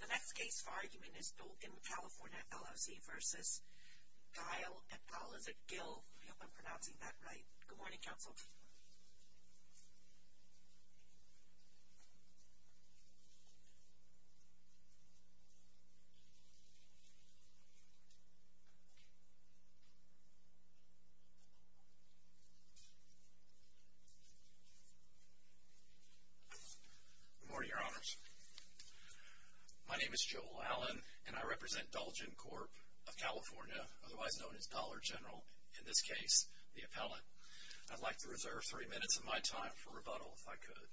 The next case for argument is Dolgen California, LLC v. Gile v. Gil, I hope I'm pronouncing that right. Good morning, counsel. Good morning, Your Honors. My name is Joel Allen, and I represent Dolgen Corp of California, otherwise known as Dollar General, in this case, the appellant. I'd like to reserve three minutes of my time for rebuttal, if I could.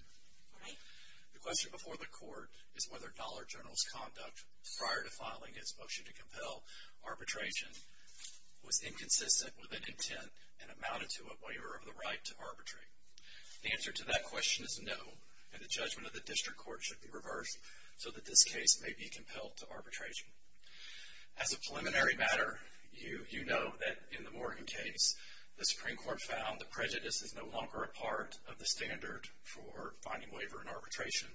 The question before the court is whether Dollar General's conduct prior to filing his motion to compel arbitration was inconsistent with an intent and amounted to a waiver of the right to arbitrate. The answer to that question is no, and the judgment of the district court should be reversed so that this case may be compelled to arbitration. As a preliminary matter, you know that in the Morgan case, the Supreme Court found that prejudice is no longer a part of the standard for finding waiver in arbitration.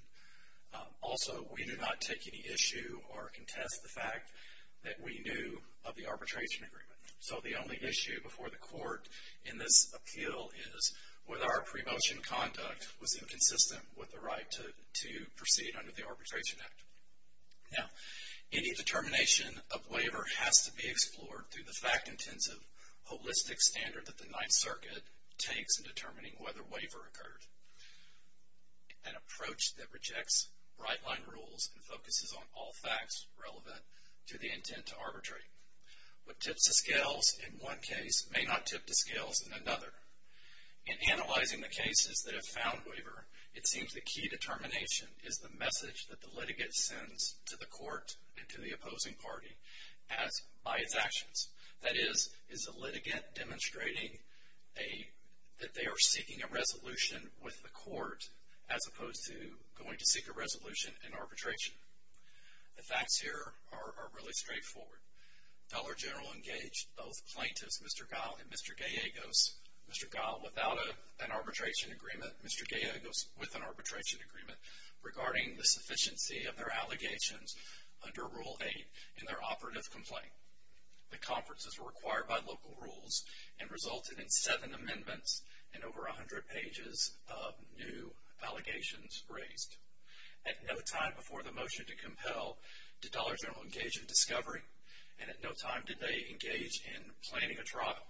Also, we do not take any issue or contest the fact that we knew of the arbitration agreement. So the only issue before the court in this appeal is whether our pre-motion conduct was inconsistent with the right to proceed under the Arbitration Act. Now, any determination of waiver has to be explored through the fact-intensive, holistic standard that the Ninth Circuit takes in determining whether waiver occurred, an approach that rejects bright-line rules and focuses on all facts relevant to the intent to arbitrate. What tips the scales in one case may not tip the scales in another. In analyzing the cases that have found waiver, it seems the key determination is the message that the litigant sends to the court and to the opposing party by its actions. That is, is the litigant demonstrating that they are seeking a resolution with the court as opposed to going to seek a resolution in arbitration? The facts here are really straightforward. Feller General engaged both plaintiffs, Mr. Geil and Mr. Gallegos, Mr. Geil without an arbitration agreement, Mr. Gallegos with an arbitration agreement, regarding the sufficiency of their allegations under Rule 8 in their operative complaint. The conferences were required by local rules and resulted in seven amendments and over 100 pages of new allegations raised. At no time before the motion to compel did Dollar General engage in discovery and at no time did they engage in planning a trial.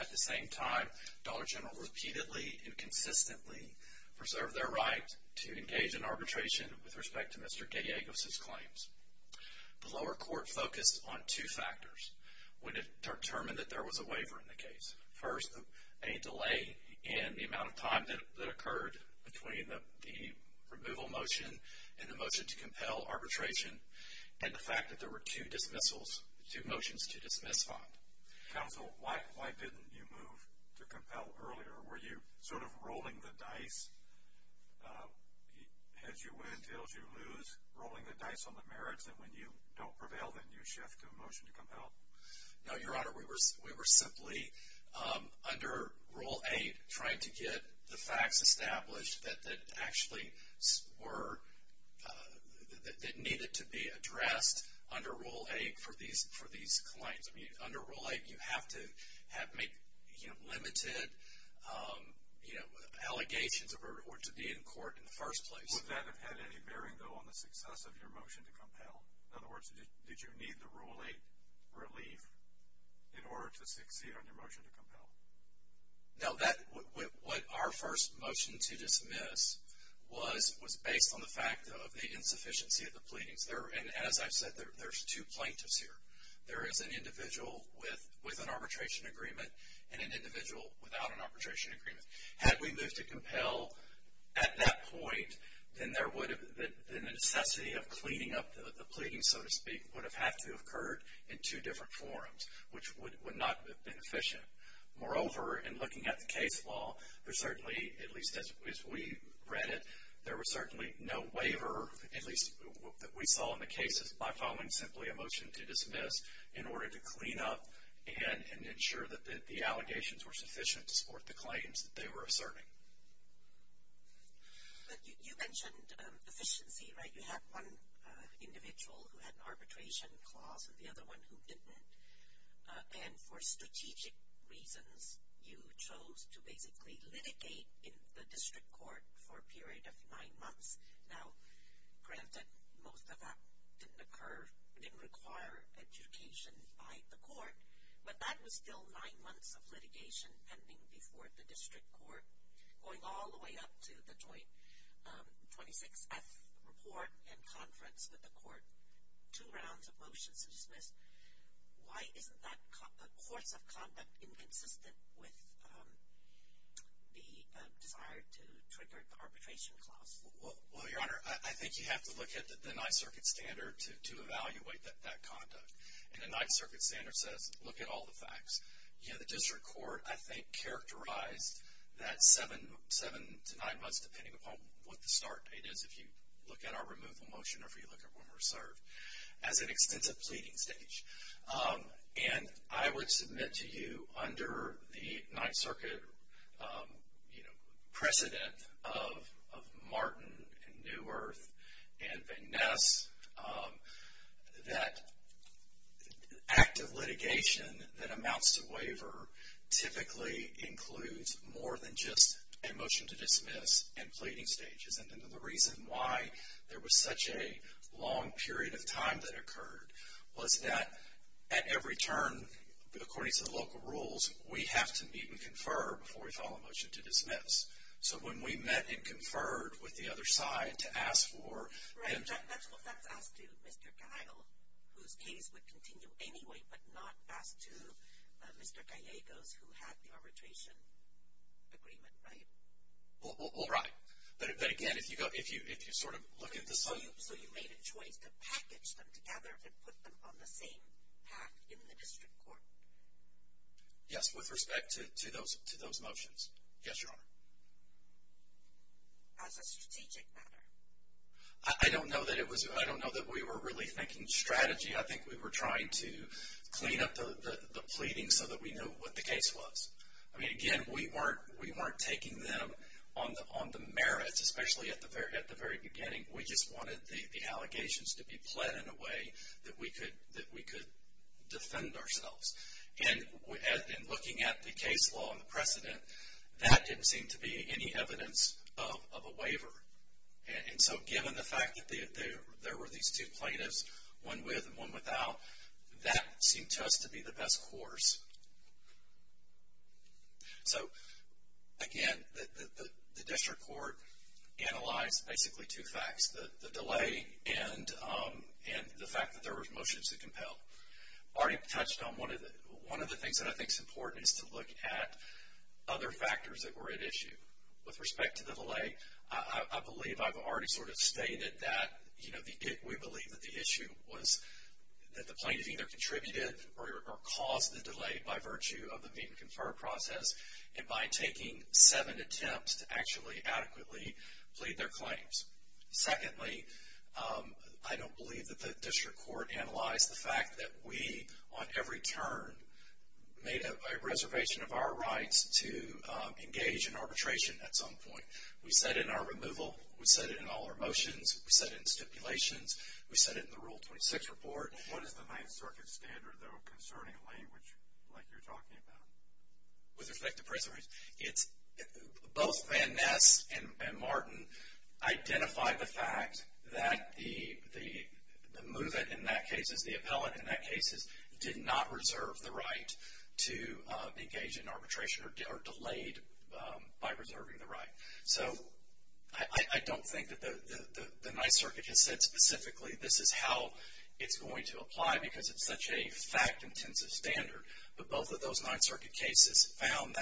At the same time, Dollar General repeatedly and consistently preserved their right to engage in arbitration with respect to Mr. Gallegos' claims. The lower court focused on two factors when it determined that there was a waiver in the case. First, a delay in the amount of time that occurred between the removal motion and the motion to compel arbitration and the fact that there were two dismissals, two motions to dismiss on. Counsel, why didn't you move to compel earlier? Were you sort of rolling the dice, heads you win, tails you lose, rolling the dice on the merits that when you don't prevail then you shift to a motion to compel? No, Your Honor, we were simply under Rule 8 trying to get the facts established that needed to be addressed under Rule 8 for these claims. Under Rule 8 you have to make limited allegations in order to be in court in the first place. Would that have had any bearing though on the success of your motion to compel? In other words, did you need the Rule 8 relief in order to succeed on your motion to compel? No, what our first motion to dismiss was based on the fact of the insufficiency of the pleadings. And as I've said, there's two plaintiffs here. There is an individual with an arbitration agreement and an individual without an arbitration agreement. Had we moved to compel at that point, then the necessity of cleaning up the pleadings, so to speak, would have had to have occurred in two different forums, which would not have been efficient. Moreover, in looking at the case law, there certainly, at least as we read it, there was certainly no waiver, at least what we saw in the cases, by following simply a motion to dismiss in order to clean up and ensure that the allegations were sufficient to support the claims that they were asserting. But you mentioned efficiency, right? You had one individual who had an arbitration clause and the other one who didn't. And for strategic reasons, you chose to basically litigate in the district court for a period of nine months. Now, granted, most of that didn't occur, didn't require adjudication by the court, but that was still nine months of litigation pending before the district court, going all the way up to the joint 26F report and conference with the court. Two rounds of motions dismissed. Why isn't that course of conduct inconsistent with the desire to trigger the arbitration clause? Well, Your Honor, I think you have to look at the Ninth Circuit standard to evaluate that conduct. And the Ninth Circuit standard says look at all the facts. The district court, I think, characterized that seven to nine months, depending upon what the start date is if you look at our removal motion or if you look at when we're served, as an extensive pleading stage. And I would submit to you under the Ninth Circuit precedent of Martin and New Earth and Van Ness that active litigation that amounts to waiver typically includes more than just a motion to dismiss and pleading stages. And then the reason why there was such a long period of time that occurred was that at every turn, according to the local rules, we have to meet and confer before we file a motion to dismiss. So when we met and conferred with the other side to ask for. Right, that's asked to Mr. Geil, whose case would continue anyway, but not asked to Mr. Gallegos, who had the arbitration agreement, right? Well, right. But again, if you sort of look at the. So you made a choice to package them together and put them on the same path in the district court? Yes, with respect to those motions. Yes, Your Honor. As a strategic matter? I don't know that we were really thinking strategy. I think we were trying to clean up the pleading so that we knew what the case was. I mean, again, we weren't taking them on the merits, especially at the very beginning. We just wanted the allegations to be pled in a way that we could defend ourselves. And in looking at the case law and the precedent, that didn't seem to be any evidence of a waiver. And so given the fact that there were these two plaintiffs, one with and one without, that seemed to us to be the best course. So, again, the district court analyzed basically two facts, the delay and the fact that there were motions to compel. I already touched on one of the things that I think is important is to look at other factors that were at issue. With respect to the delay, I believe I've already sort of stated that we believe that the issue was that the plaintiff either contributed or caused the delay by virtue of the meet and confer process and by taking seven attempts to actually adequately plead their claims. Secondly, I don't believe that the district court analyzed the fact that we, on every turn, made a reservation of our rights to engage in arbitration at some point. We said it in our removal. We said it in all our motions. We said it in stipulations. We said it in the Rule 26 report. What is the Ninth Circuit standard, though, concerning a delay like you're talking about? With respect to preservation, both Van Ness and Martin identified the fact that the move-in in that case, the appellant in that case, did not reserve the right to engage in arbitration or delayed by reserving the right. So I don't think that the Ninth Circuit has said specifically this is how it's going to apply because it's such a fact-intensive standard, but both of those Ninth Circuit cases found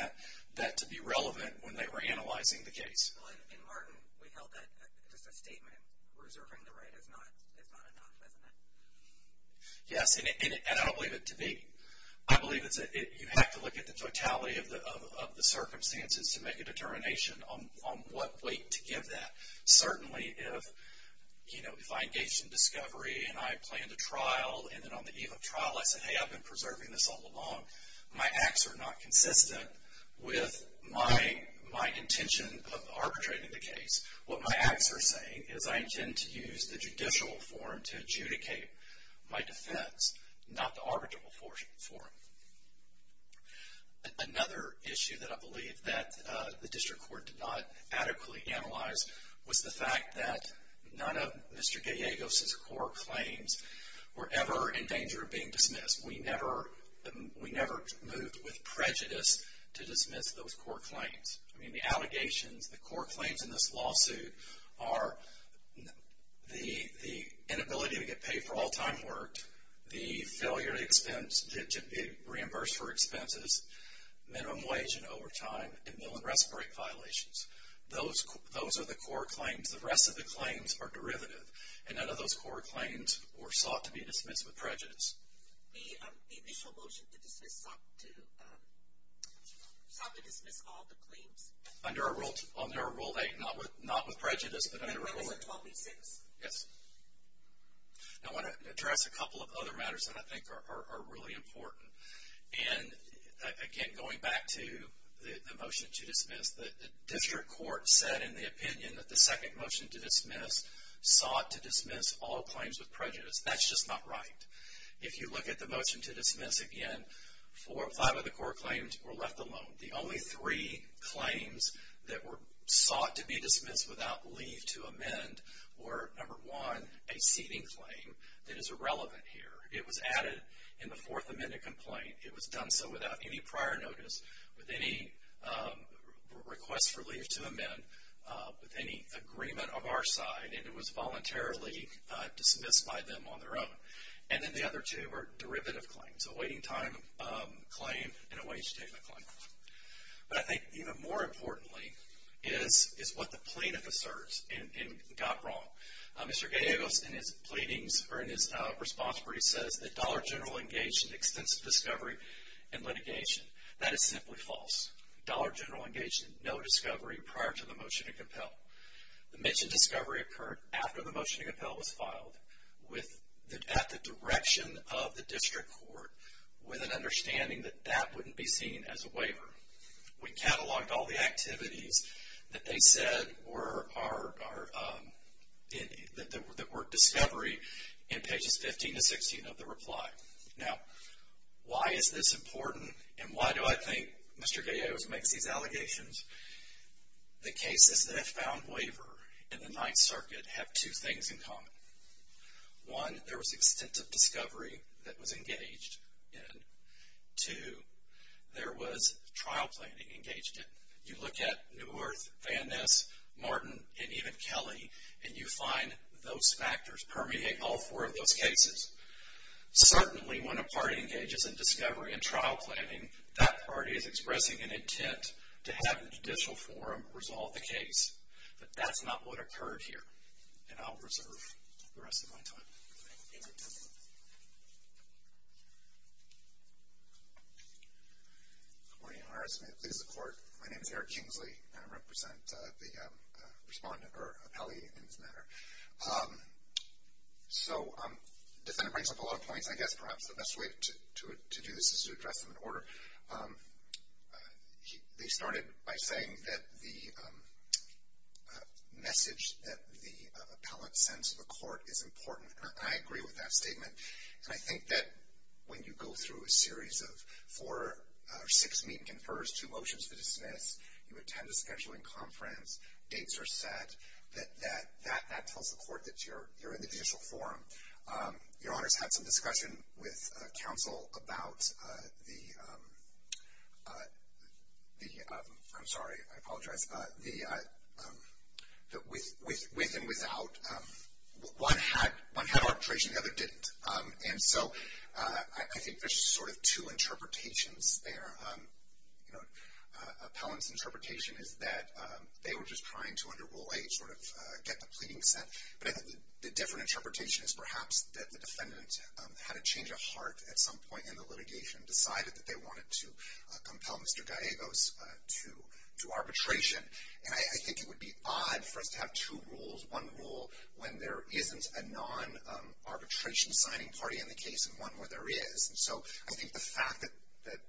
that to be relevant when they were analyzing the case. In Martin, we held that just a statement, reserving the right is not enough, isn't it? Yes, and I don't believe it to be. I believe you have to look at the totality of the circumstances to make a determination on what weight to give that. Certainly, if I engaged in discovery and I planned a trial, and then on the eve of trial I said, hey, I've been preserving this all along, my acts are not consistent with my intention of arbitrating the case. What my acts are saying is I intend to use the judicial forum to adjudicate my defense, not the arbitrable forum. Another issue that I believe that the district court did not adequately analyze was the fact that none of Mr. Gallegos' court claims were ever in danger of being dismissed. We never moved with prejudice to dismiss those court claims. I mean, the allegations, the court claims in this lawsuit are the inability to get paid for all-time work, the failure to reimburse for expenses, minimum wage and overtime, and mill and respirator violations. Those are the court claims. The rest of the claims are derivative, and none of those court claims were sought to be dismissed with prejudice. The initial motion to dismiss sought to dismiss all the claims. Under our Rule 8, not with prejudice, but under Rule 8. That was in 1286. Yes. I want to address a couple of other matters that I think are really important. Again, going back to the motion to dismiss, the district court said in the opinion that the second motion to dismiss sought to dismiss all claims with prejudice. That's just not right. If you look at the motion to dismiss again, five of the court claims were left alone. The only three claims that were sought to be dismissed without leave to amend were, number one, a seating claim. That is irrelevant here. It was added in the Fourth Amendment complaint. It was done so without any prior notice, with any request for leave to amend, with any agreement of our side, and it was voluntarily dismissed by them on their own. And then the other two were derivative claims, a waiting time claim and a wage statement claim. But I think even more importantly is what the plaintiff asserts and got wrong. Mr. Gallegos in his pleadings or in his response where he says that Dollar General engaged in extensive discovery and litigation. That is simply false. Dollar General engaged in no discovery prior to the motion to compel. The mentioned discovery occurred after the motion to compel was filed at the direction of the district court with an understanding that that wouldn't be seen as a waiver. However, we cataloged all the activities that they said that were discovery in pages 15 to 16 of the reply. Now, why is this important and why do I think Mr. Gallegos makes these allegations? The cases that have found waiver in the Ninth Circuit have two things in common. One, there was extensive discovery that was engaged in. Two, there was trial planning engaged in. You look at Neuwirth, Van Ness, Martin, and even Kelly, and you find those factors permeate all four of those cases. Certainly, when a party engages in discovery and trial planning, that party is expressing an intent to have a judicial forum resolve the case. But that's not what occurred here, and I'll reserve the rest of my time. Thank you. Good morning, Your Honor. This is the court. My name is Eric Kingsley, and I represent the respondent or appellee in this matter. So the defendant brings up a lot of points. I guess perhaps the best way to do this is to address them in order. They started by saying that the message that the appellate sends to the court is important, and I agree with that statement. And I think that when you go through a series of four or six meet-and-confers, two motions to dismiss, you attend a scheduling conference, dates are set, that that tells the court that you're in the judicial forum. Your Honor's had some discussion with counsel about the, I'm sorry, I apologize, that with and without, one had arbitration, the other didn't. And so I think there's sort of two interpretations there. Appellant's interpretation is that they were just trying to, under Rule 8, sort of get the pleading sent. But I think the different interpretation is perhaps that the defendant had a change of heart at some point in the litigation, decided that they wanted to compel Mr. Gallegos to arbitration. And I think it would be odd for us to have two rules, one rule when there isn't a non-arbitration signing party in the case, and one where there is. And so I think the fact that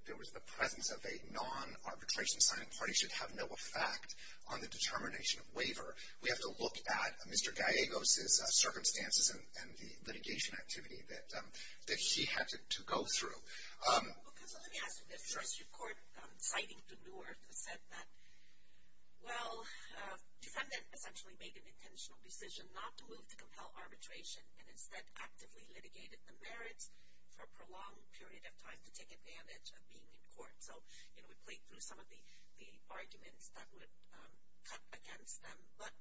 there was the presence of a non-arbitration signing party should have no effect on the determination of waiver. We have to look at Mr. Gallegos' circumstances and the litigation activity that he had to go through. Well, counsel, let me ask you this. First, your court citing to Newark said that, well, defendant essentially made an intentional decision not to move to compel arbitration and instead actively litigated the merits for a prolonged period of time to take advantage of being in court. So, you know, we played through some of the arguments that would cut against them. But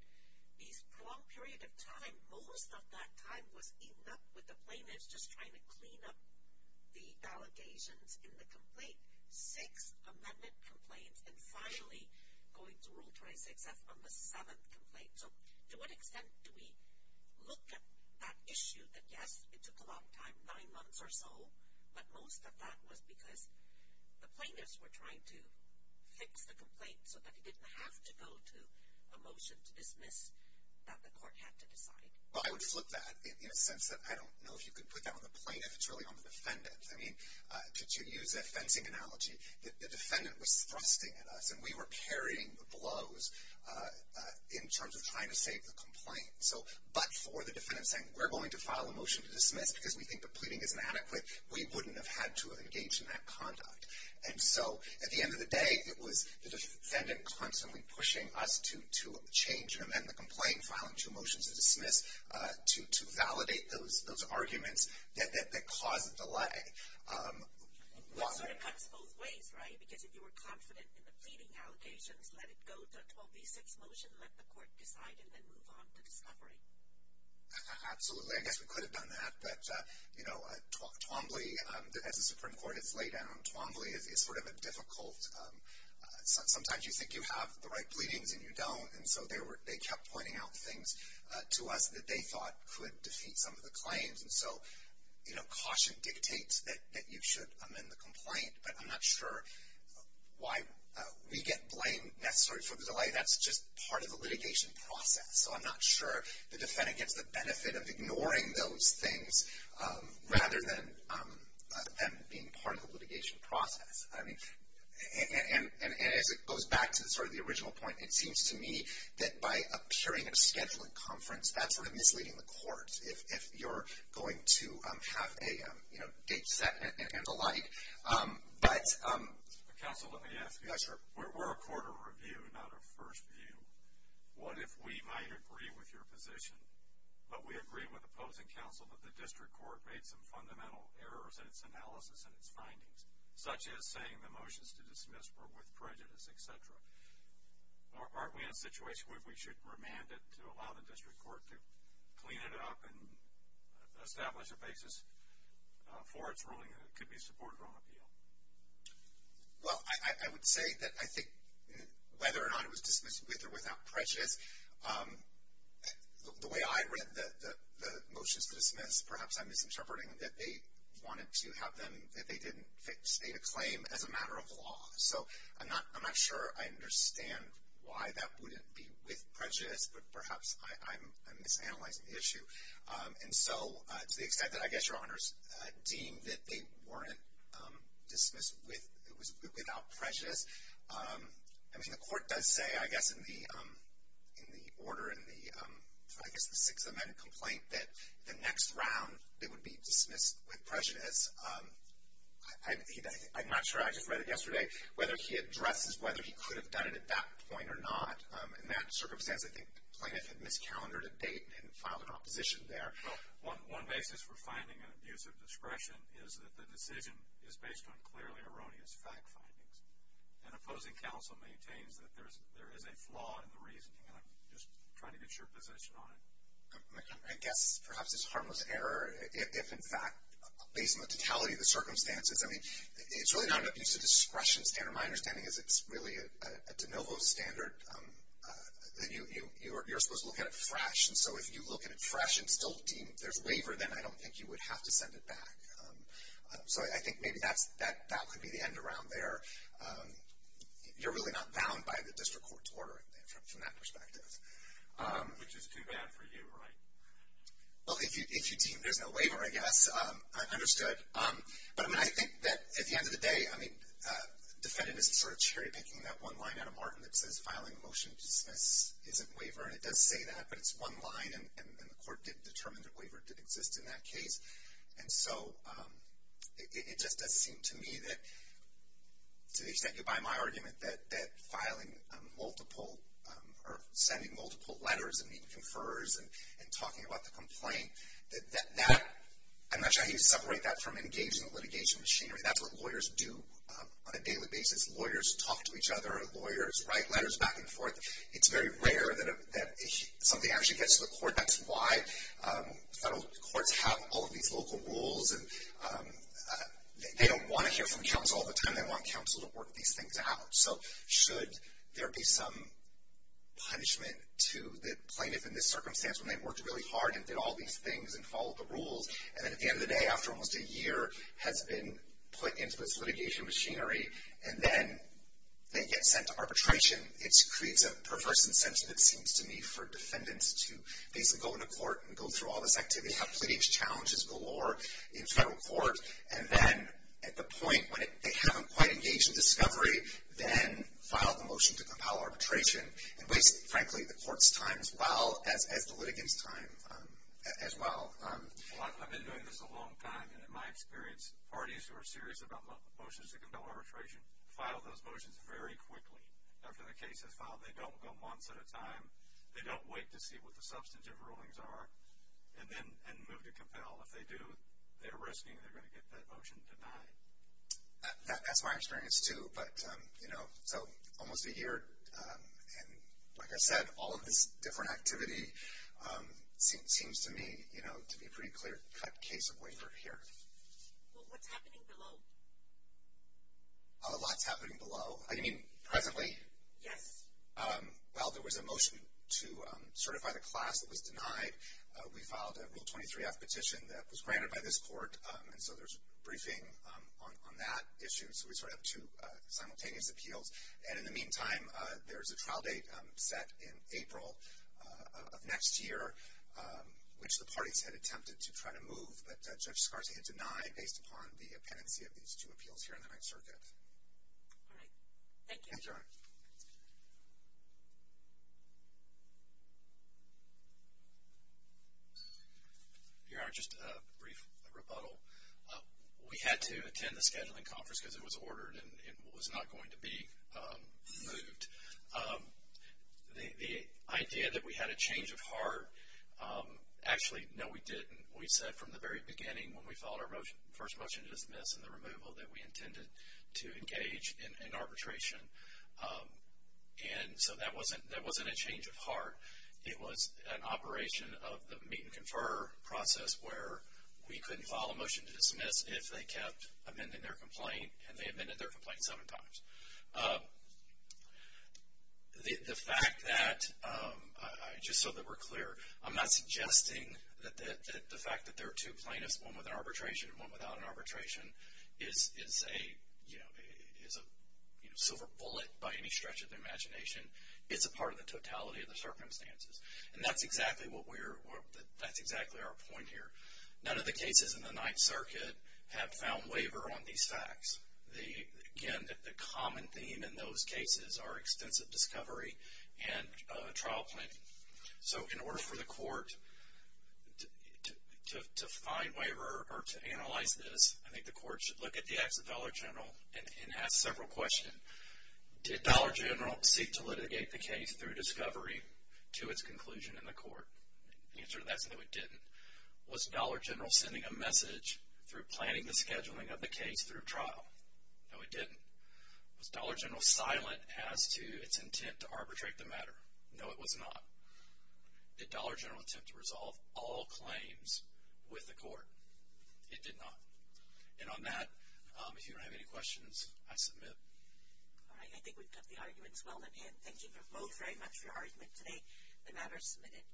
this prolonged period of time, most of that time was eaten up with the plaintiffs just trying to clean up the allegations in the complaint. Six amendment complaints and finally going to Rule 26F on the seventh complaint. So to what extent do we look at that issue that, yes, it took a long time, nine months or so, but most of that was because the plaintiffs were trying to fix the complaint so that it didn't have to go to a motion to dismiss that the court had to decide? Well, I would flip that in a sense that I don't know if you could put that on the plaintiff. It's really on the defendant. I mean, to use a fencing analogy, the defendant was thrusting at us and we were carrying the blows in terms of trying to save the complaint. So but for the defendant saying, we're going to file a motion to dismiss because we think the pleading is inadequate, we wouldn't have had to engage in that conduct. And so at the end of the day, it was the defendant constantly pushing us to change and amend the complaint, filing two motions to dismiss to validate those arguments that caused the delay. That sort of cuts both ways, right? Because if you were confident in the pleading allegations, let it go to a 12B6 motion, let the court decide, and then move on to discovery. Absolutely. I guess we could have done that. But, you know, Twombly, as a Supreme Court, it's laid down. Twombly is sort of a difficult, sometimes you think you have the right pleadings and you don't. And so they kept pointing out things to us that they thought could defeat some of the claims. And so, you know, caution dictates that you should amend the complaint. But I'm not sure why we get blamed necessarily for the delay. That's just part of the litigation process. So I'm not sure the defendant gets the benefit of ignoring those things rather than them being part of the litigation process. I mean, and as it goes back to sort of the original point, it seems to me that by appearing at a scheduling conference, that's sort of misleading the court. If you're going to have a, you know, date set and the like. But. Counsel, let me ask you. Yes, sir. We're a court of review, not a first view. What if we might agree with your position, but we agree with opposing counsel that the district court made some fundamental errors in its analysis and its findings, such as saying the motions to dismiss were with prejudice, et cetera. Aren't we in a situation where we should remand it to allow the district court to clean it up and establish a basis for its ruling that it could be supported on appeal? Well, I would say that I think whether or not it was dismissed with or without prejudice, the way I read the motions to dismiss, perhaps I'm misinterpreting, that they wanted to have them, that they didn't state a claim as a matter of law. So I'm not sure I understand why that wouldn't be with prejudice, but perhaps I'm misanalyzing the issue. And so to the extent that I guess your honors deem that they weren't dismissed without prejudice, I mean, the court does say, I guess, in the order in the, I guess, the Sixth Amendment complaint, that the next round it would be dismissed with prejudice. I'm not sure, I just read it yesterday, whether he addresses whether he could have done it at that point or not. In that circumstance, I think Plaintiff had miscalendered a date and filed an opposition there. Well, one basis for finding an abuse of discretion is that the decision is based on clearly erroneous fact findings. And opposing counsel maintains that there is a flaw in the reasoning, and I'm just trying to get your position on it. I guess perhaps it's harmless error if, in fact, based on the totality of the circumstances, I mean, it's really not an abuse of discretion standard. My understanding is it's really a de novo standard. You're supposed to look at it fresh, and so if you look at it fresh and still deem there's waiver, then I don't think you would have to send it back. So I think maybe that could be the end around there. You're really not bound by the district court's order from that perspective. Which is too bad for you, right? Well, if you deem there's no waiver, I guess, I understood. But, I mean, I think that at the end of the day, I mean, defendant is sort of cherry picking that one line out of Martin that says filing a motion to dismiss isn't waiver, and it does say that, but it's one line, and the court didn't determine that waiver did exist in that case. And so it just does seem to me that, to the extent you buy my argument, that filing multiple or sending multiple letters and meeting conferrers and talking about the complaint, that that, I'm not trying to separate that from engaging the litigation machinery. That's what lawyers do on a daily basis. Lawyers talk to each other. Lawyers write letters back and forth. It's very rare that something actually gets to the court. And that's why federal courts have all of these local rules. And they don't want to hear from counsel all the time. They want counsel to work these things out. So should there be some punishment to the plaintiff in this circumstance when they worked really hard and did all these things and followed the rules, and then at the end of the day, after almost a year has been put into this litigation machinery, and then they get sent to arbitration, it creates a perverse incentive, it seems to me, for defendants to basically go into court and go through all this activity, have pleading challenges galore in federal court, and then at the point when they haven't quite engaged in discovery, then file the motion to compel arbitration and waste, frankly, the court's time as well as the litigant's time as well. Well, I've been doing this a long time, and in my experience, parties who are serious about motions to compel arbitration file those motions very quickly. After the case is filed, they don't go months at a time. They don't wait to see what the substantive rulings are and then move to compel. If they do, they're risking they're going to get that motion denied. That's my experience, too. But, you know, so almost a year, and like I said, all of this different activity seems to me, you know, to be a pretty clear-cut case of waiver here. Well, what's happening below? A lot's happening below. I mean, presently. Yes. Well, there was a motion to certify the class that was denied. We filed a Rule 23-F petition that was granted by this court, and so there's a briefing on that issue. So we sort of have two simultaneous appeals. And in the meantime, there's a trial date set in April of next year, which the parties had attempted to try to move, but Judge Scarsey had denied based upon the appendix of these two appeals here in the Ninth Circuit. All right. Thank you. Thanks, Your Honor. Your Honor, just a brief rebuttal. We had to attend the scheduling conference because it was ordered and it was not going to be moved. The idea that we had a change of heart, actually, no, we didn't. We said from the very beginning when we filed our first motion to dismiss and the removal that we intended to engage in arbitration. It was an operation of the meet and confer process where we couldn't file a motion to dismiss if they kept amending their complaint and they amended their complaint seven times. The fact that, just so that we're clear, I'm not suggesting that the fact that there are two plaintiffs, one with an arbitration and one without an arbitration, is a silver bullet by any stretch of the imagination. It's a part of the totality of the circumstances. And that's exactly our point here. None of the cases in the Ninth Circuit have found waiver on these facts. Again, the common theme in those cases are extensive discovery and trial planning. So in order for the court to find waiver or to analyze this, I think the court should look at the acts of Dollar General and ask several questions. Did Dollar General seek to litigate the case through discovery to its conclusion in the court? The answer to that is no, it didn't. Was Dollar General sending a message through planning the scheduling of the case through trial? No, it didn't. Was Dollar General silent as to its intent to arbitrate the matter? No, it was not. Did Dollar General attempt to resolve all claims with the court? It did not. And on that, if you don't have any questions, I submit. All right, I think we've got the arguments well in hand. Thank you both very much for your argument today. The matter is submitted.